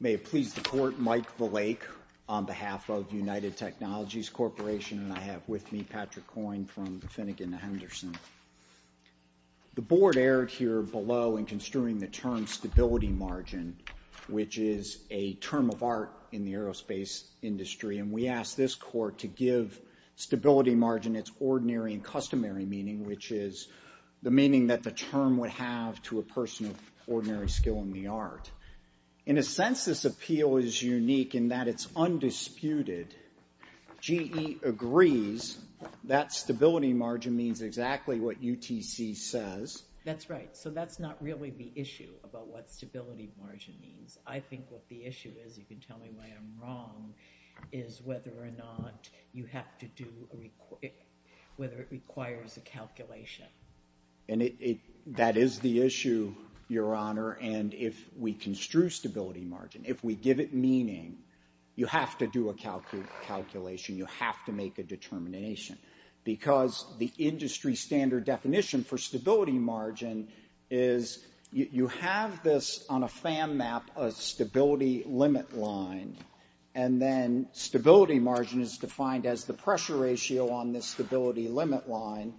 May it please the Court, Mike Valake on behalf of United Technologies Corporation and I have with me Patrick Coyne from the Finnegan-Henderson. The Board erred here below in construing the term stability margin, which is a term of art in the aerospace industry and we ask this Court to give stability margin its ordinary and customary meaning, which is the meaning that the term would have to a person of ordinary skill in the art. In a sense this appeal is unique in that it's undisputed, GE agrees that stability margin means exactly what UTC says. That's right. So that's not really the issue about what stability margin means. I think what the issue is, you can tell me why I'm wrong, is whether or not you have to do, whether it requires a calculation. And that is the issue, Your Honor, and if we construe stability margin, if we give it meaning, you have to do a calculation, you have to make a determination because the industry standard definition for stability margin is you have this on a fan map, a stability limit line, and then stability margin is defined as the pressure ratio on the stability limit line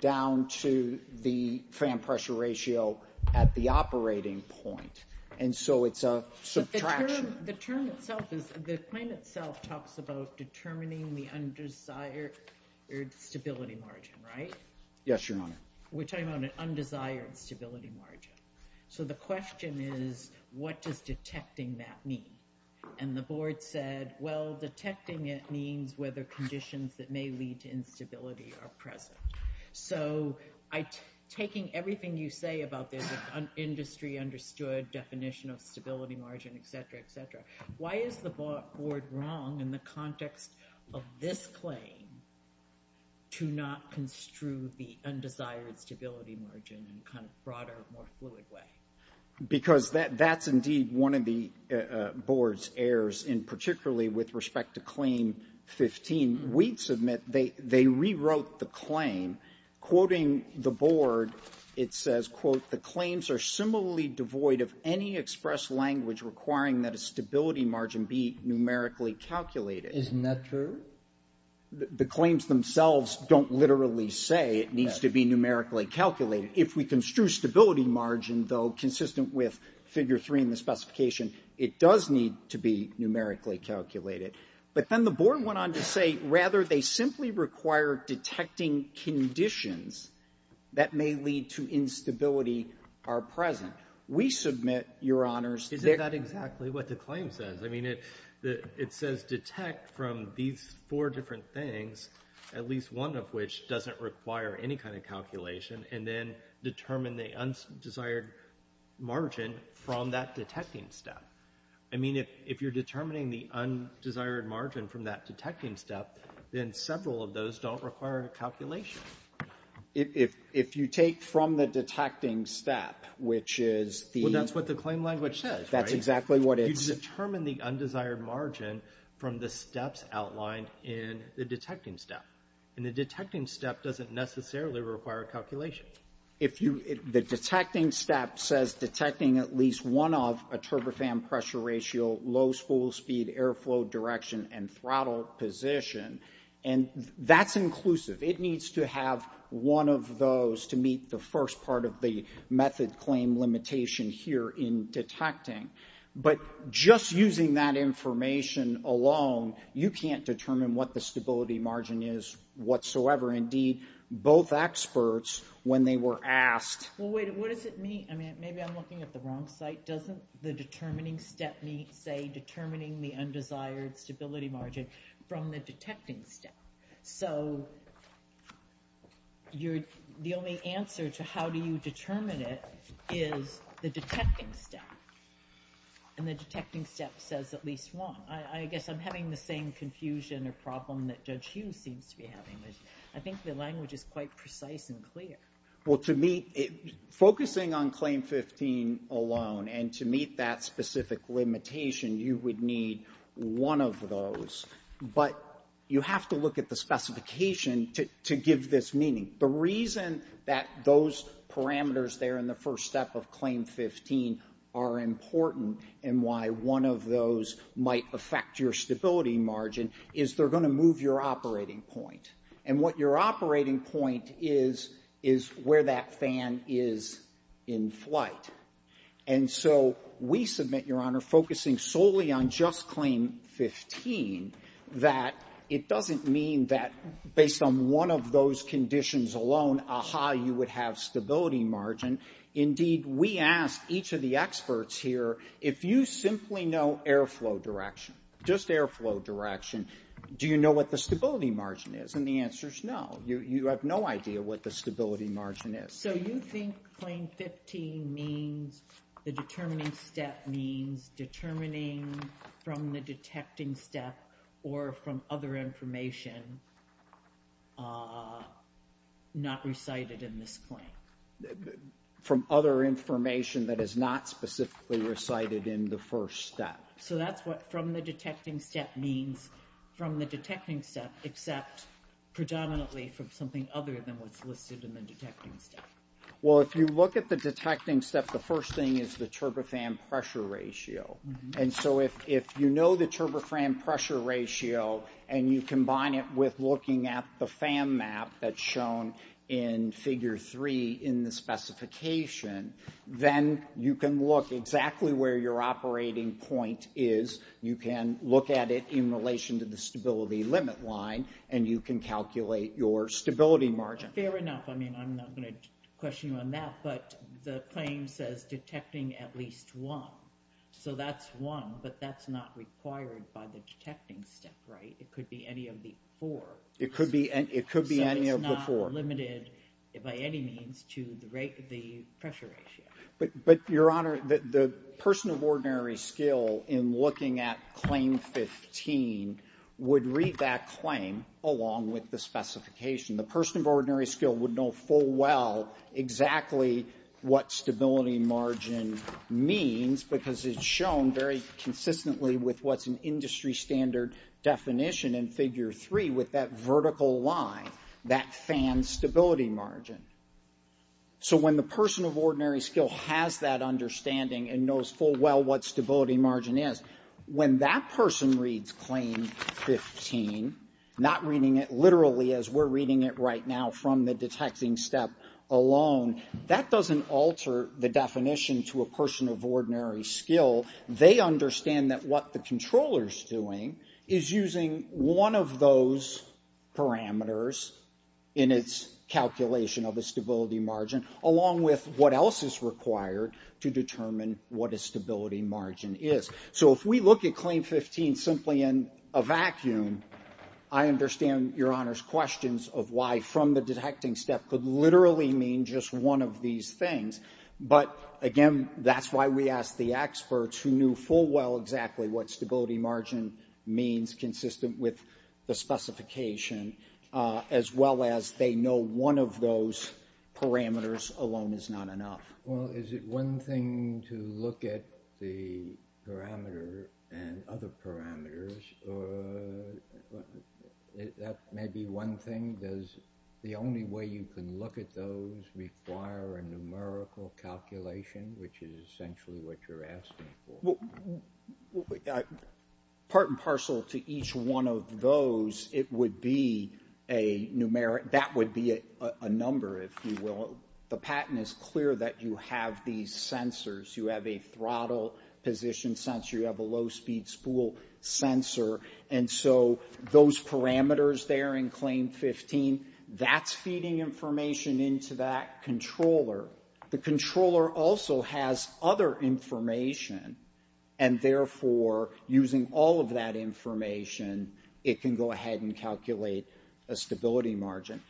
down to the fan pressure ratio at the operating point. And so it's a subtraction. The term itself is, the claim itself talks about determining the undesired stability margin, right? Yes, Your Honor. We're talking about an undesired stability margin. So the question is, what does detecting that mean? And the Board said, well, detecting it means whether conditions that may lead to instability are present. So taking everything you say about this industry understood definition of stability margin, et cetera, et cetera, why is the Board wrong in the context of this claim to not construe the undesired stability margin in a kind of broader, more fluid way? Because that's indeed one of the Board's errors, and particularly with respect to Claim 15, Wheat's admit they rewrote the claim, quoting the Board, it says, quote, the claims are similarly devoid of any express language requiring that a stability margin be numerically calculated. Is that true? The claims themselves don't literally say it needs to be numerically calculated. If we construe stability margin, though consistent with Figure 3 in the specification, it does need to be numerically calculated. But then the Board went on to say, rather, they simply require detecting conditions that may lead to instability are present. We submit, Your Honors, that the claim says. I mean, it says detect from these four different things, at least one of which doesn't require any kind of calculation, and then determine the undesired margin from that detecting step. I mean, if you're determining the undesired margin from that detecting step, then several of those don't require a calculation. If you take from the detecting step, which is the. Well, that's what the claim language says, right? That's exactly what it's. You determine the undesired margin from the steps outlined in the detecting step. And the detecting step doesn't necessarily require a calculation. If the detecting step says detecting at least one of a turbofan pressure ratio, low spool speed, airflow direction, and throttle position, and that's inclusive. It needs to have one of those to meet the first part of the method claim limitation here in detecting. But just using that information alone, you can't determine what the stability margin is whatsoever. Indeed, both experts, when they were asked. Well, wait, what does it mean? I mean, maybe I'm looking at the wrong site. Doesn't the determining step need, say, determining the undesired stability margin from the detecting step? So the only answer to how do you determine it is the detecting step. And the detecting step says at least one. I guess I'm having the same confusion or problem that Judge Hughes seems to be I think the language is quite precise and clear. Well, to me, focusing on claim 15 alone and to meet that specific limitation, you would need one of those. But you have to look at the specification to give this meaning. The reason that those parameters there in the first step of claim 15 are important and why one of those might affect your stability margin is they're going to move your operating point. And what your operating point is is where that fan is in flight. And so we submit, Your Honor, focusing solely on just claim 15, that it doesn't mean that based on one of those conditions alone, aha, you would have stability margin. Indeed, we ask each of the experts here, if you simply know airflow direction, just airflow direction, do you know what the stability margin is? And the answer is no. You have no idea what the stability margin is. So you think claim 15 means the determining step means determining from the detecting step or from other information not recited in this claim? From other information that is not specifically recited in the first step. So that's what from the detecting step means from the detecting step except predominantly from something other than what's listed in the detecting step. Well, if you look at the detecting step, the first thing is the turbofan pressure ratio. And so if you know the turbofan pressure ratio and you combine it with looking at the fan map that's shown in figure three in the specification, then you can look exactly where your operating point is. You can look at it in relation to the stability limit line, and you can calculate your stability margin. Fair enough. I mean, I'm not going to question you on that, but the claim says detecting at least one. So that's one, but that's not required by the detecting step, right? It could be any of the four. It could be any of the four. So it's not limited by any means to the pressure ratio. But, Your Honor, the person of ordinary skill in looking at claim 15 would read that claim along with the specification. The person of ordinary skill would know full well exactly what stability margin means because it's shown very consistently with what's an industry standard definition in figure three with that vertical line, that fan stability margin. So when the person of ordinary skill has that understanding and knows full well what stability margin is, when that person reads claim 15, not reading it literally as we're reading it right now from the detecting step alone, that doesn't alter the definition to a person of ordinary skill. They understand that what the controller's doing is using one of those parameters in its calculation of the stability margin along with what else is required to determine what a stability margin is. So if we look at claim 15 simply in a vacuum, I understand Your Honor's questions of why from the detecting step could literally mean just one of these things. But again, that's why we asked the experts who knew full well exactly what the specification, as well as they know one of those parameters alone is not enough. Well, is it one thing to look at the parameter and other parameters, or that may be one thing? Does the only way you can look at those require a numerical calculation, which is essentially what you're asking for? Part and parcel to each one of those, it would be a numeric, that would be a number, if you will. The patent is clear that you have these sensors. You have a throttle position sensor, you have a low-speed spool sensor. And so those parameters there in claim 15, that's feeding information into that controller. The controller also has other information, and therefore, using all of that information, it can go ahead and calculate a stability margin.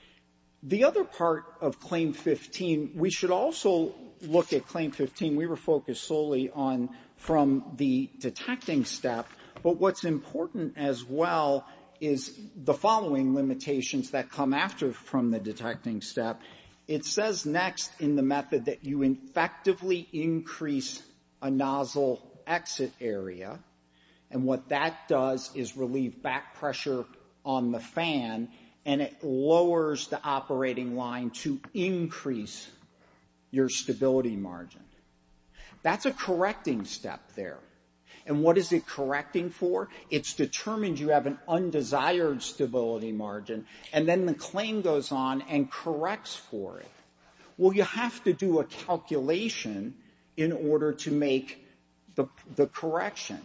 The other part of claim 15, we should also look at claim 15. We were focused solely on from the detecting step. But what's important as well is the following limitations that come after from the detecting step. It says next in the method that you effectively increase a nozzle exit area. And what that does is relieve back pressure on the fan, and it lowers the operating line to increase your stability margin. That's a correcting step there. And what is it correcting for? It's determined you have an undesired stability margin. And then the claim goes on and corrects for it. Well, you have to do a calculation in order to make the correction.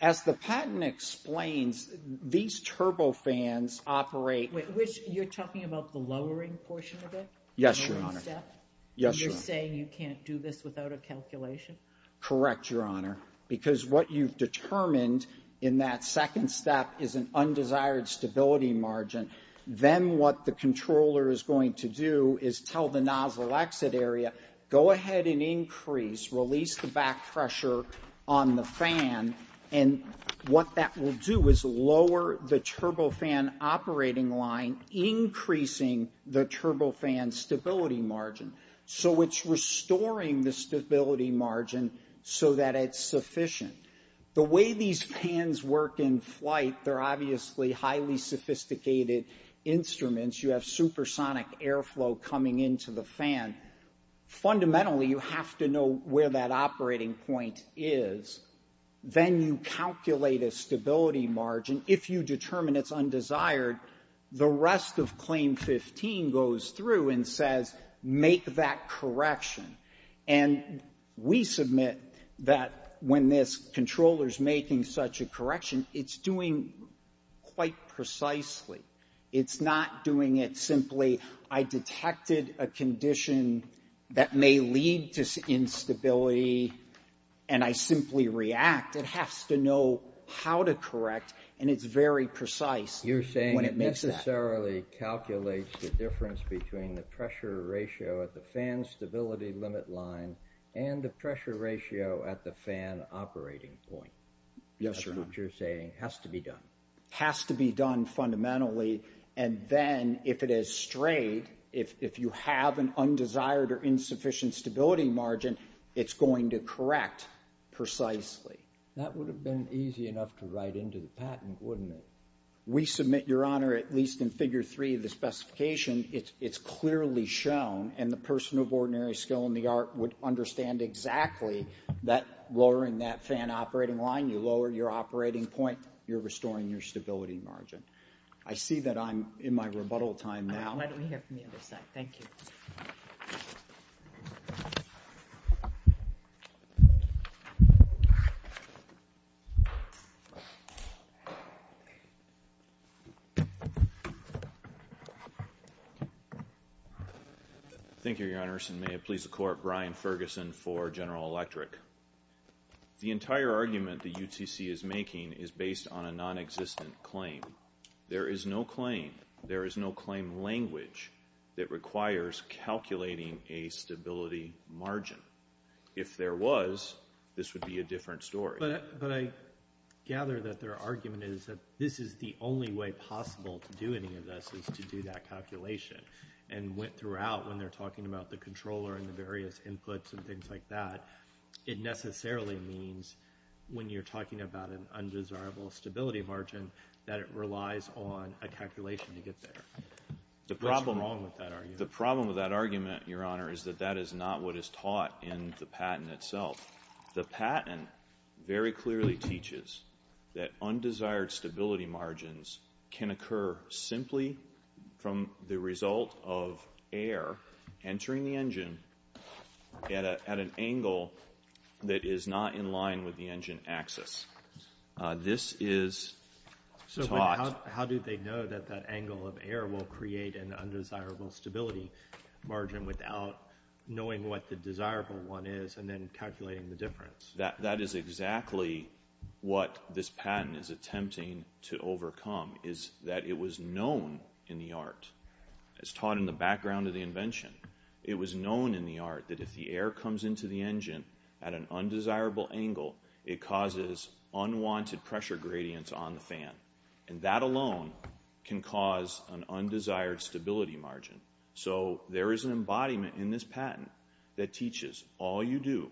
As the patent explains, these turbo fans operate... Wait, you're talking about the lowering portion of it? Yes, Your Honor. You're saying you can't do this without a calculation? Correct, Your Honor, because what you've determined in that second step is an Then what the controller is going to do is tell the nozzle exit area, go ahead and increase, release the back pressure on the fan. And what that will do is lower the turbo fan operating line, increasing the turbo fan stability margin. So it's restoring the stability margin so that it's sufficient. The way these fans work in flight, they're obviously highly sophisticated instruments. You have supersonic airflow coming into the fan. Fundamentally, you have to know where that operating point is. Then you calculate a stability margin. If you determine it's undesired, the rest of Claim 15 goes through and says, make that correction. And we submit that when this controller's making such a correction, it's doing quite precisely. It's not doing it simply, I detected a condition that may lead to instability, and I simply react. It has to know how to correct, and it's very precise when it makes that. You're saying it necessarily calculates the difference between the pressure ratio at the fan stability limit line and the pressure ratio at the fan operating point. Yes, Your Honor. Which you're saying has to be done. Has to be done fundamentally, and then if it is straight, if you have an undesired or insufficient stability margin, it's going to correct precisely. That would have been easy enough to write into the patent, wouldn't it? We submit, Your Honor, at least in Figure 3 of the specification, it's clearly shown, and the person of ordinary skill in the art would understand exactly that lowering that fan operating line, you lower your operating point, you're restoring your stability margin. I see that I'm in my rebuttal time now. Why don't we hear from the other side? Thank you. Thank you, Your Honors, and may it please the Court, Brian Ferguson for General Electric. The entire argument the UTC is making is based on a non-existent claim. There is no claim. There is no claim language that requires calculating a stability margin. If there was, this would be a different story. But I gather that their argument is that this is the only way possible to do any of this is to do that calculation. And went throughout when they're talking about the controller and the various inputs and things like that, it necessarily means when you're talking about an undesirable stability margin that it relies on a calculation to get there. What's wrong with that argument? The problem with that argument, Your Honor, is that that is not what is taught in the patent itself. The patent very clearly teaches that undesired stability margins can occur simply from the result of air entering the engine at an angle that is not in line with the engine axis. This is taught. How do they know that that angle of air will create an undesirable stability margin without knowing what the desirable one is and then calculating the difference? That is exactly what this patent is attempting to overcome, is that it was known in the art. It's taught in the background of the invention. It was known in the art that if the air comes into the engine at an undesirable angle, it causes unwanted pressure gradients on the fan. And that alone can cause an undesired stability margin. So there is an embodiment in this patent that teaches all you do,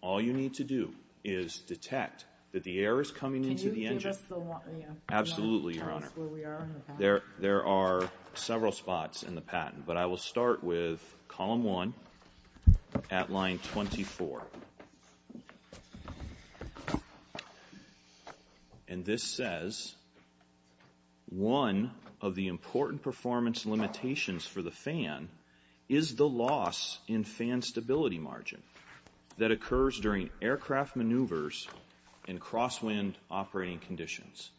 all you need to do, is detect that the air is coming into the engine. Can you give us the line? Absolutely, Your Honor. Tell us where we are in the patent. There are several spots in the patent. But I will start with column one at line 24. And this says, one of the important performance limitations for the fan is the loss in fan stability margin that occurs during aircraft maneuvers in crosswind operating conditions.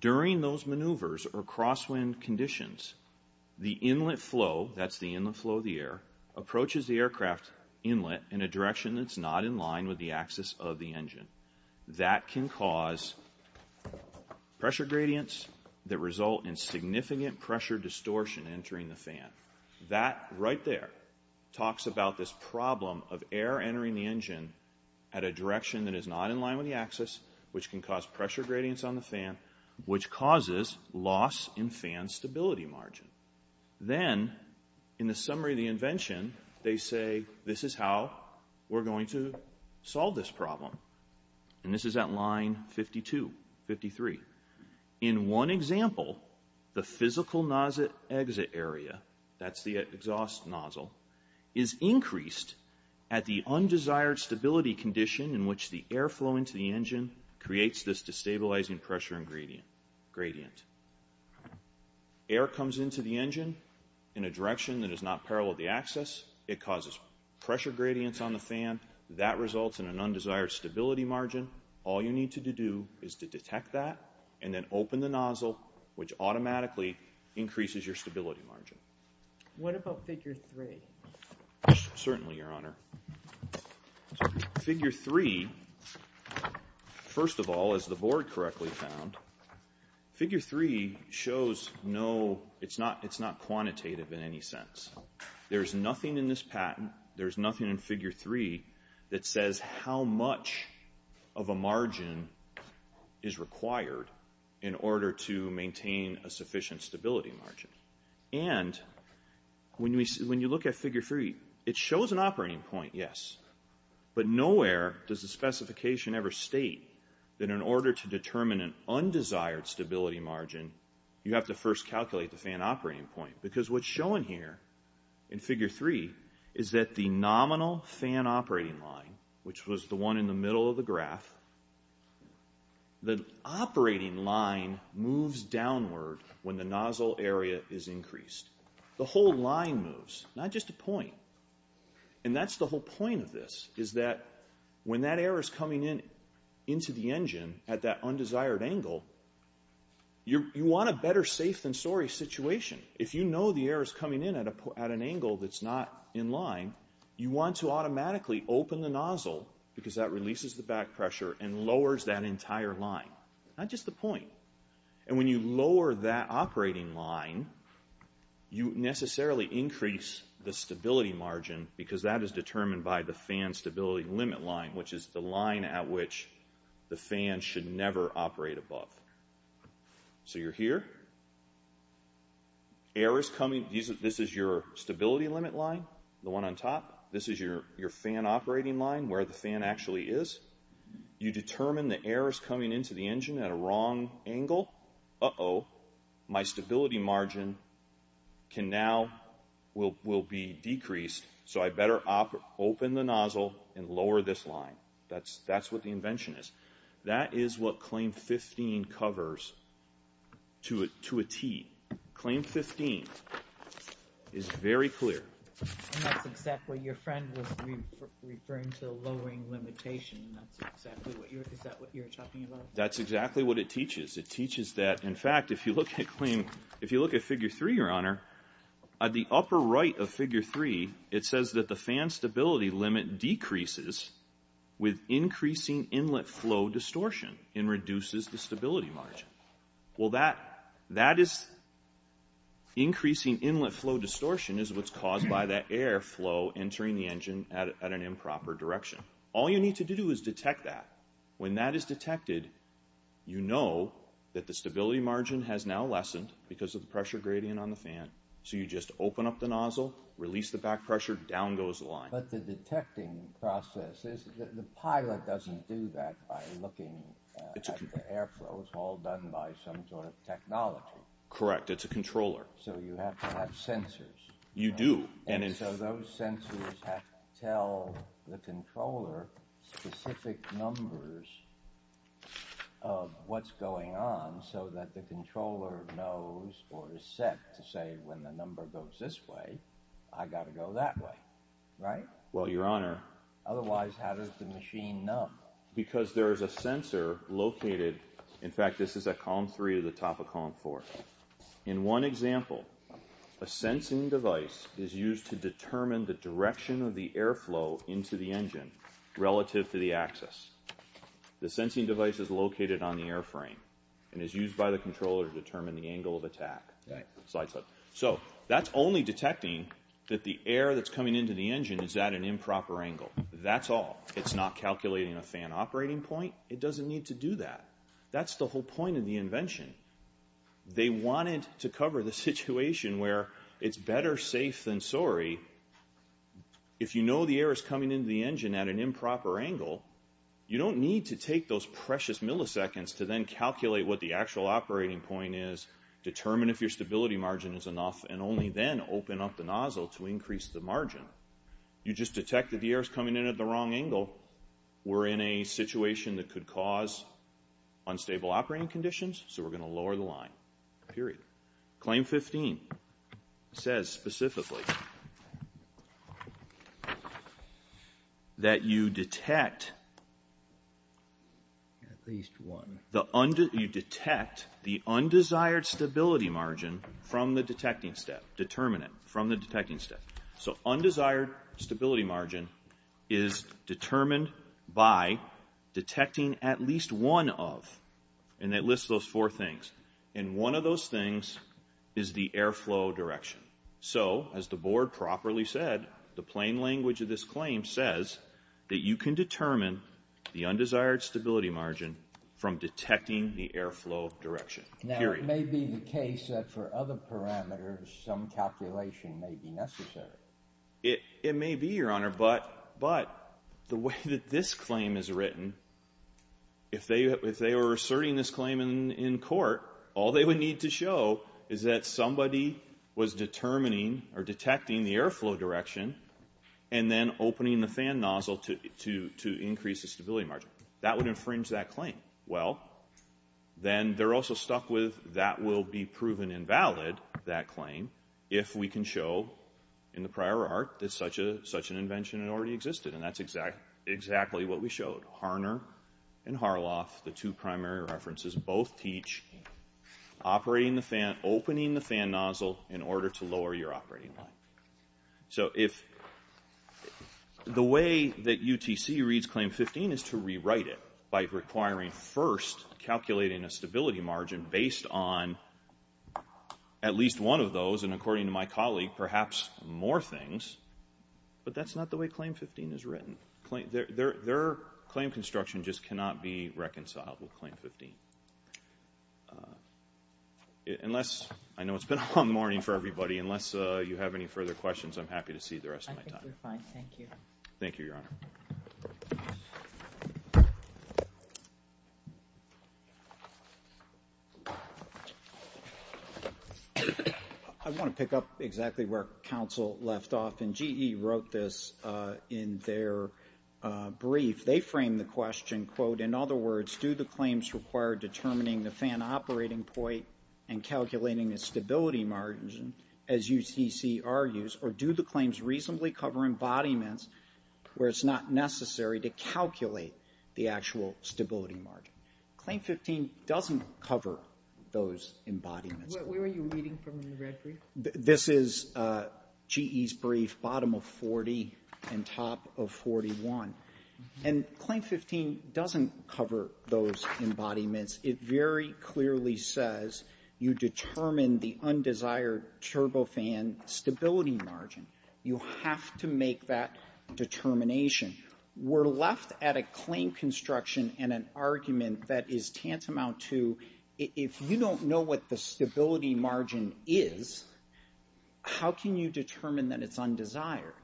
During those maneuvers or crosswind conditions, the inlet flow, that's the inlet flow of the air, approaches the aircraft inlet in a direction that's not in line with the axis of the engine. That can cause pressure gradients that result in significant pressure distortion entering the fan. That right there talks about this problem of air entering the engine at a direction that is not in line with the axis, which can cause pressure gradients on the fan, which causes loss in fan stability margin. Then, in the summary of the invention, they say this is how we're going to solve this problem. And this is at line 52, 53. In one example, the physical nozzle exit area, that's the exhaust nozzle, is increased at the undesired stability condition in which the air flow into the engine creates this destabilizing pressure gradient. Air comes into the engine in a direction that is not parallel to the axis. It causes pressure gradients on the fan. That results in an undesired stability margin. All you need to do is to detect that and then open the nozzle, which automatically increases your stability margin. What about figure three? Certainly, Your Honor. Figure three, first of all, as the board correctly found, figure three shows no, it's not quantitative in any sense. There's nothing in this patent, there's nothing in figure three, that says how much of a margin is required in order to maintain a sufficient stability margin. And when you look at figure three, it shows an operating point, yes. But nowhere does the specification ever state that in order to determine an undesired stability margin, you have to first calculate the fan operating point. Because what's shown here in figure three is that the nominal fan operating line, which was the one in the middle of the graph, the operating line moves downward when the nozzle area is increased. The whole line moves, not just a point. And that's the whole point of this, is that when that air is coming in into the engine at that undesired angle, you want a better safe than sorry situation. If you know the air is coming in at an angle that's not in line, you want to automatically open the nozzle, because that releases the back pressure and lowers that entire line, not just the point. And when you lower that operating line, you necessarily increase the stability margin, because that is determined by the fan stability limit line, which is the line at which the fan should never operate above. So you're here. This is your stability limit line, the one on top. This is your fan operating line, where the fan actually is. You determine the air is coming into the engine at a wrong angle. Uh-oh. My stability margin will be decreased, so I better open the nozzle and lower this line. That's what the invention is. That is what claim 15 covers, to a T. Claim 15 is very clear. And that's exactly what your friend was referring to, lowering limitation. That's exactly what you're talking about. That's exactly what it teaches. It teaches that, in fact, if you look at claim, if you look at figure 3, your honor, at the upper right of figure 3, it says that the fan stability limit decreases with increasing inlet flow distortion and reduces the stability margin. Well, that is increasing inlet flow distortion is what's caused by that air flow entering the engine at an improper direction. All you need to do is detect that. When that is detected, you know that the stability margin has now lessened because of the pressure gradient on the fan. So you just open up the nozzle, release the back pressure, down goes the line. But the detecting process is that the pilot doesn't do that by looking at the air flows, all done by some sort of technology. Correct, it's a controller. So you have to have sensors. You do. And so those sensors have to tell the controller specific numbers of what's going on so that the controller knows or is set to say, when the number goes this way, I got to go that way. Well, your honor. Otherwise, how does the machine know? Because there is a sensor located. In fact, this is at column 3 at the top of column 4. In one example, a sensing device is used to determine the direction of the air flow into the engine relative to the axis. The sensing device is located on the airframe and is used by the controller to determine the angle of attack. Slides up. So that's only detecting that the air that's coming into the engine is at an improper angle. That's all. It's not calculating a fan operating point. It doesn't need to do that. That's the whole point of the invention. They wanted to cover the situation where it's better safe than sorry. If you know the air is coming into the engine at an improper angle, you don't need to take those precious milliseconds to then calculate what the actual operating point is, determine if your stability margin is enough, and only then open up the nozzle to increase the margin. You just detect that the air is coming in at the wrong angle. We're in a situation that could cause unstable operating conditions, so we're going to lower the line. Period. Claim 15 says specifically that you detect the undesired stability margin from the detecting step. Determine it from the detecting step. So undesired stability margin is determined by detecting at least one of, and it lists those four things, and one of those things is the airflow direction. So as the board properly said, the plain language of this claim says that you can determine the undesired stability margin from detecting the airflow direction. Period. Now, it may be the case that for other parameters, some calculation may be necessary. It may be, Your Honor, but the way that this claim is written, if they were asserting this claim in court, all they would need to show is that somebody was determining or detecting the airflow direction, and then opening the fan nozzle to increase the stability margin. That would infringe that claim. Well, then they're also stuck with that will be proven invalid, that claim, if we can show in the prior art that such an invention had already existed, and that's exactly what we showed. Harner and Harloff, the two primary references, both teach opening the fan nozzle in order to lower your operating line. So the way that UTC reads Claim 15 is to rewrite it by requiring first calculating a stability margin based on at least one of those, and according to my colleague, perhaps more things. But that's not the way Claim 15 is written. Their claim construction just cannot be reconciled with Claim 15. Unless, I know it's been a long morning for everybody, unless you have any further questions, I'm happy to see the rest of my time. I think we're fine, thank you. Thank you, Your Honor. I want to pick up exactly where counsel left off, and GE wrote this in their brief. They framed the question, quote, in other words, do the claims require determining the fan operating point and calculating a stability margin, as UTC argues, or do the claims reasonably cover embodiments where it's not necessary to calculate the actual stability margin? Claim 15 doesn't cover those embodiments. Where are you reading from in the red brief? This is GE's brief, bottom of 40 and top of 41. And Claim 15 doesn't cover those embodiments. It very clearly says you determine the undesired turbofan stability margin. You have to make that determination. We're left at a claim construction and an argument that is tantamount to, if you don't know what the stability margin is, how can you determine that it's undesired?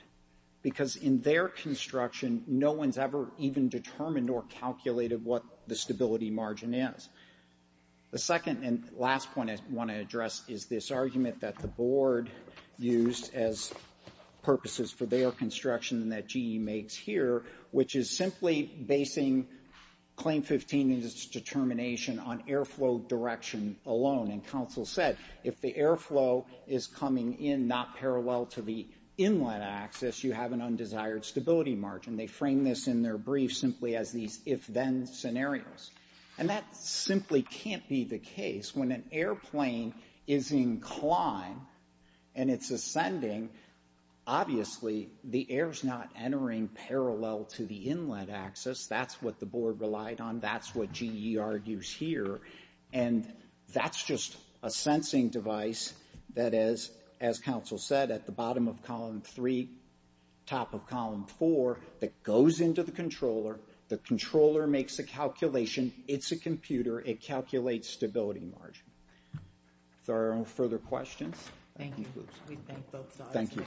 Because in their construction, no one's ever even determined or calculated what the stability margin is. The second and last point I want to address is this argument that the board used as purposes for their construction and that GE makes here, which is simply basing Claim 15 and its determination on airflow direction alone. And counsel said, if the airflow is coming in not parallel to the inlet axis, you have an undesired stability margin. They framed this in their brief simply as these if-then scenarios. And that simply can't be the case. When an airplane is in climb and it's ascending, obviously the air is not entering parallel to the inlet axis. That's what the board relied on. That's what GE argues here. And that's just a sensing device that, as counsel said, at the bottom of column three, top of column four, that goes into the controller. The controller makes a calculation. It's a computer. It calculates stability margin. If there are no further questions. Thank you, Bruce. Thank you.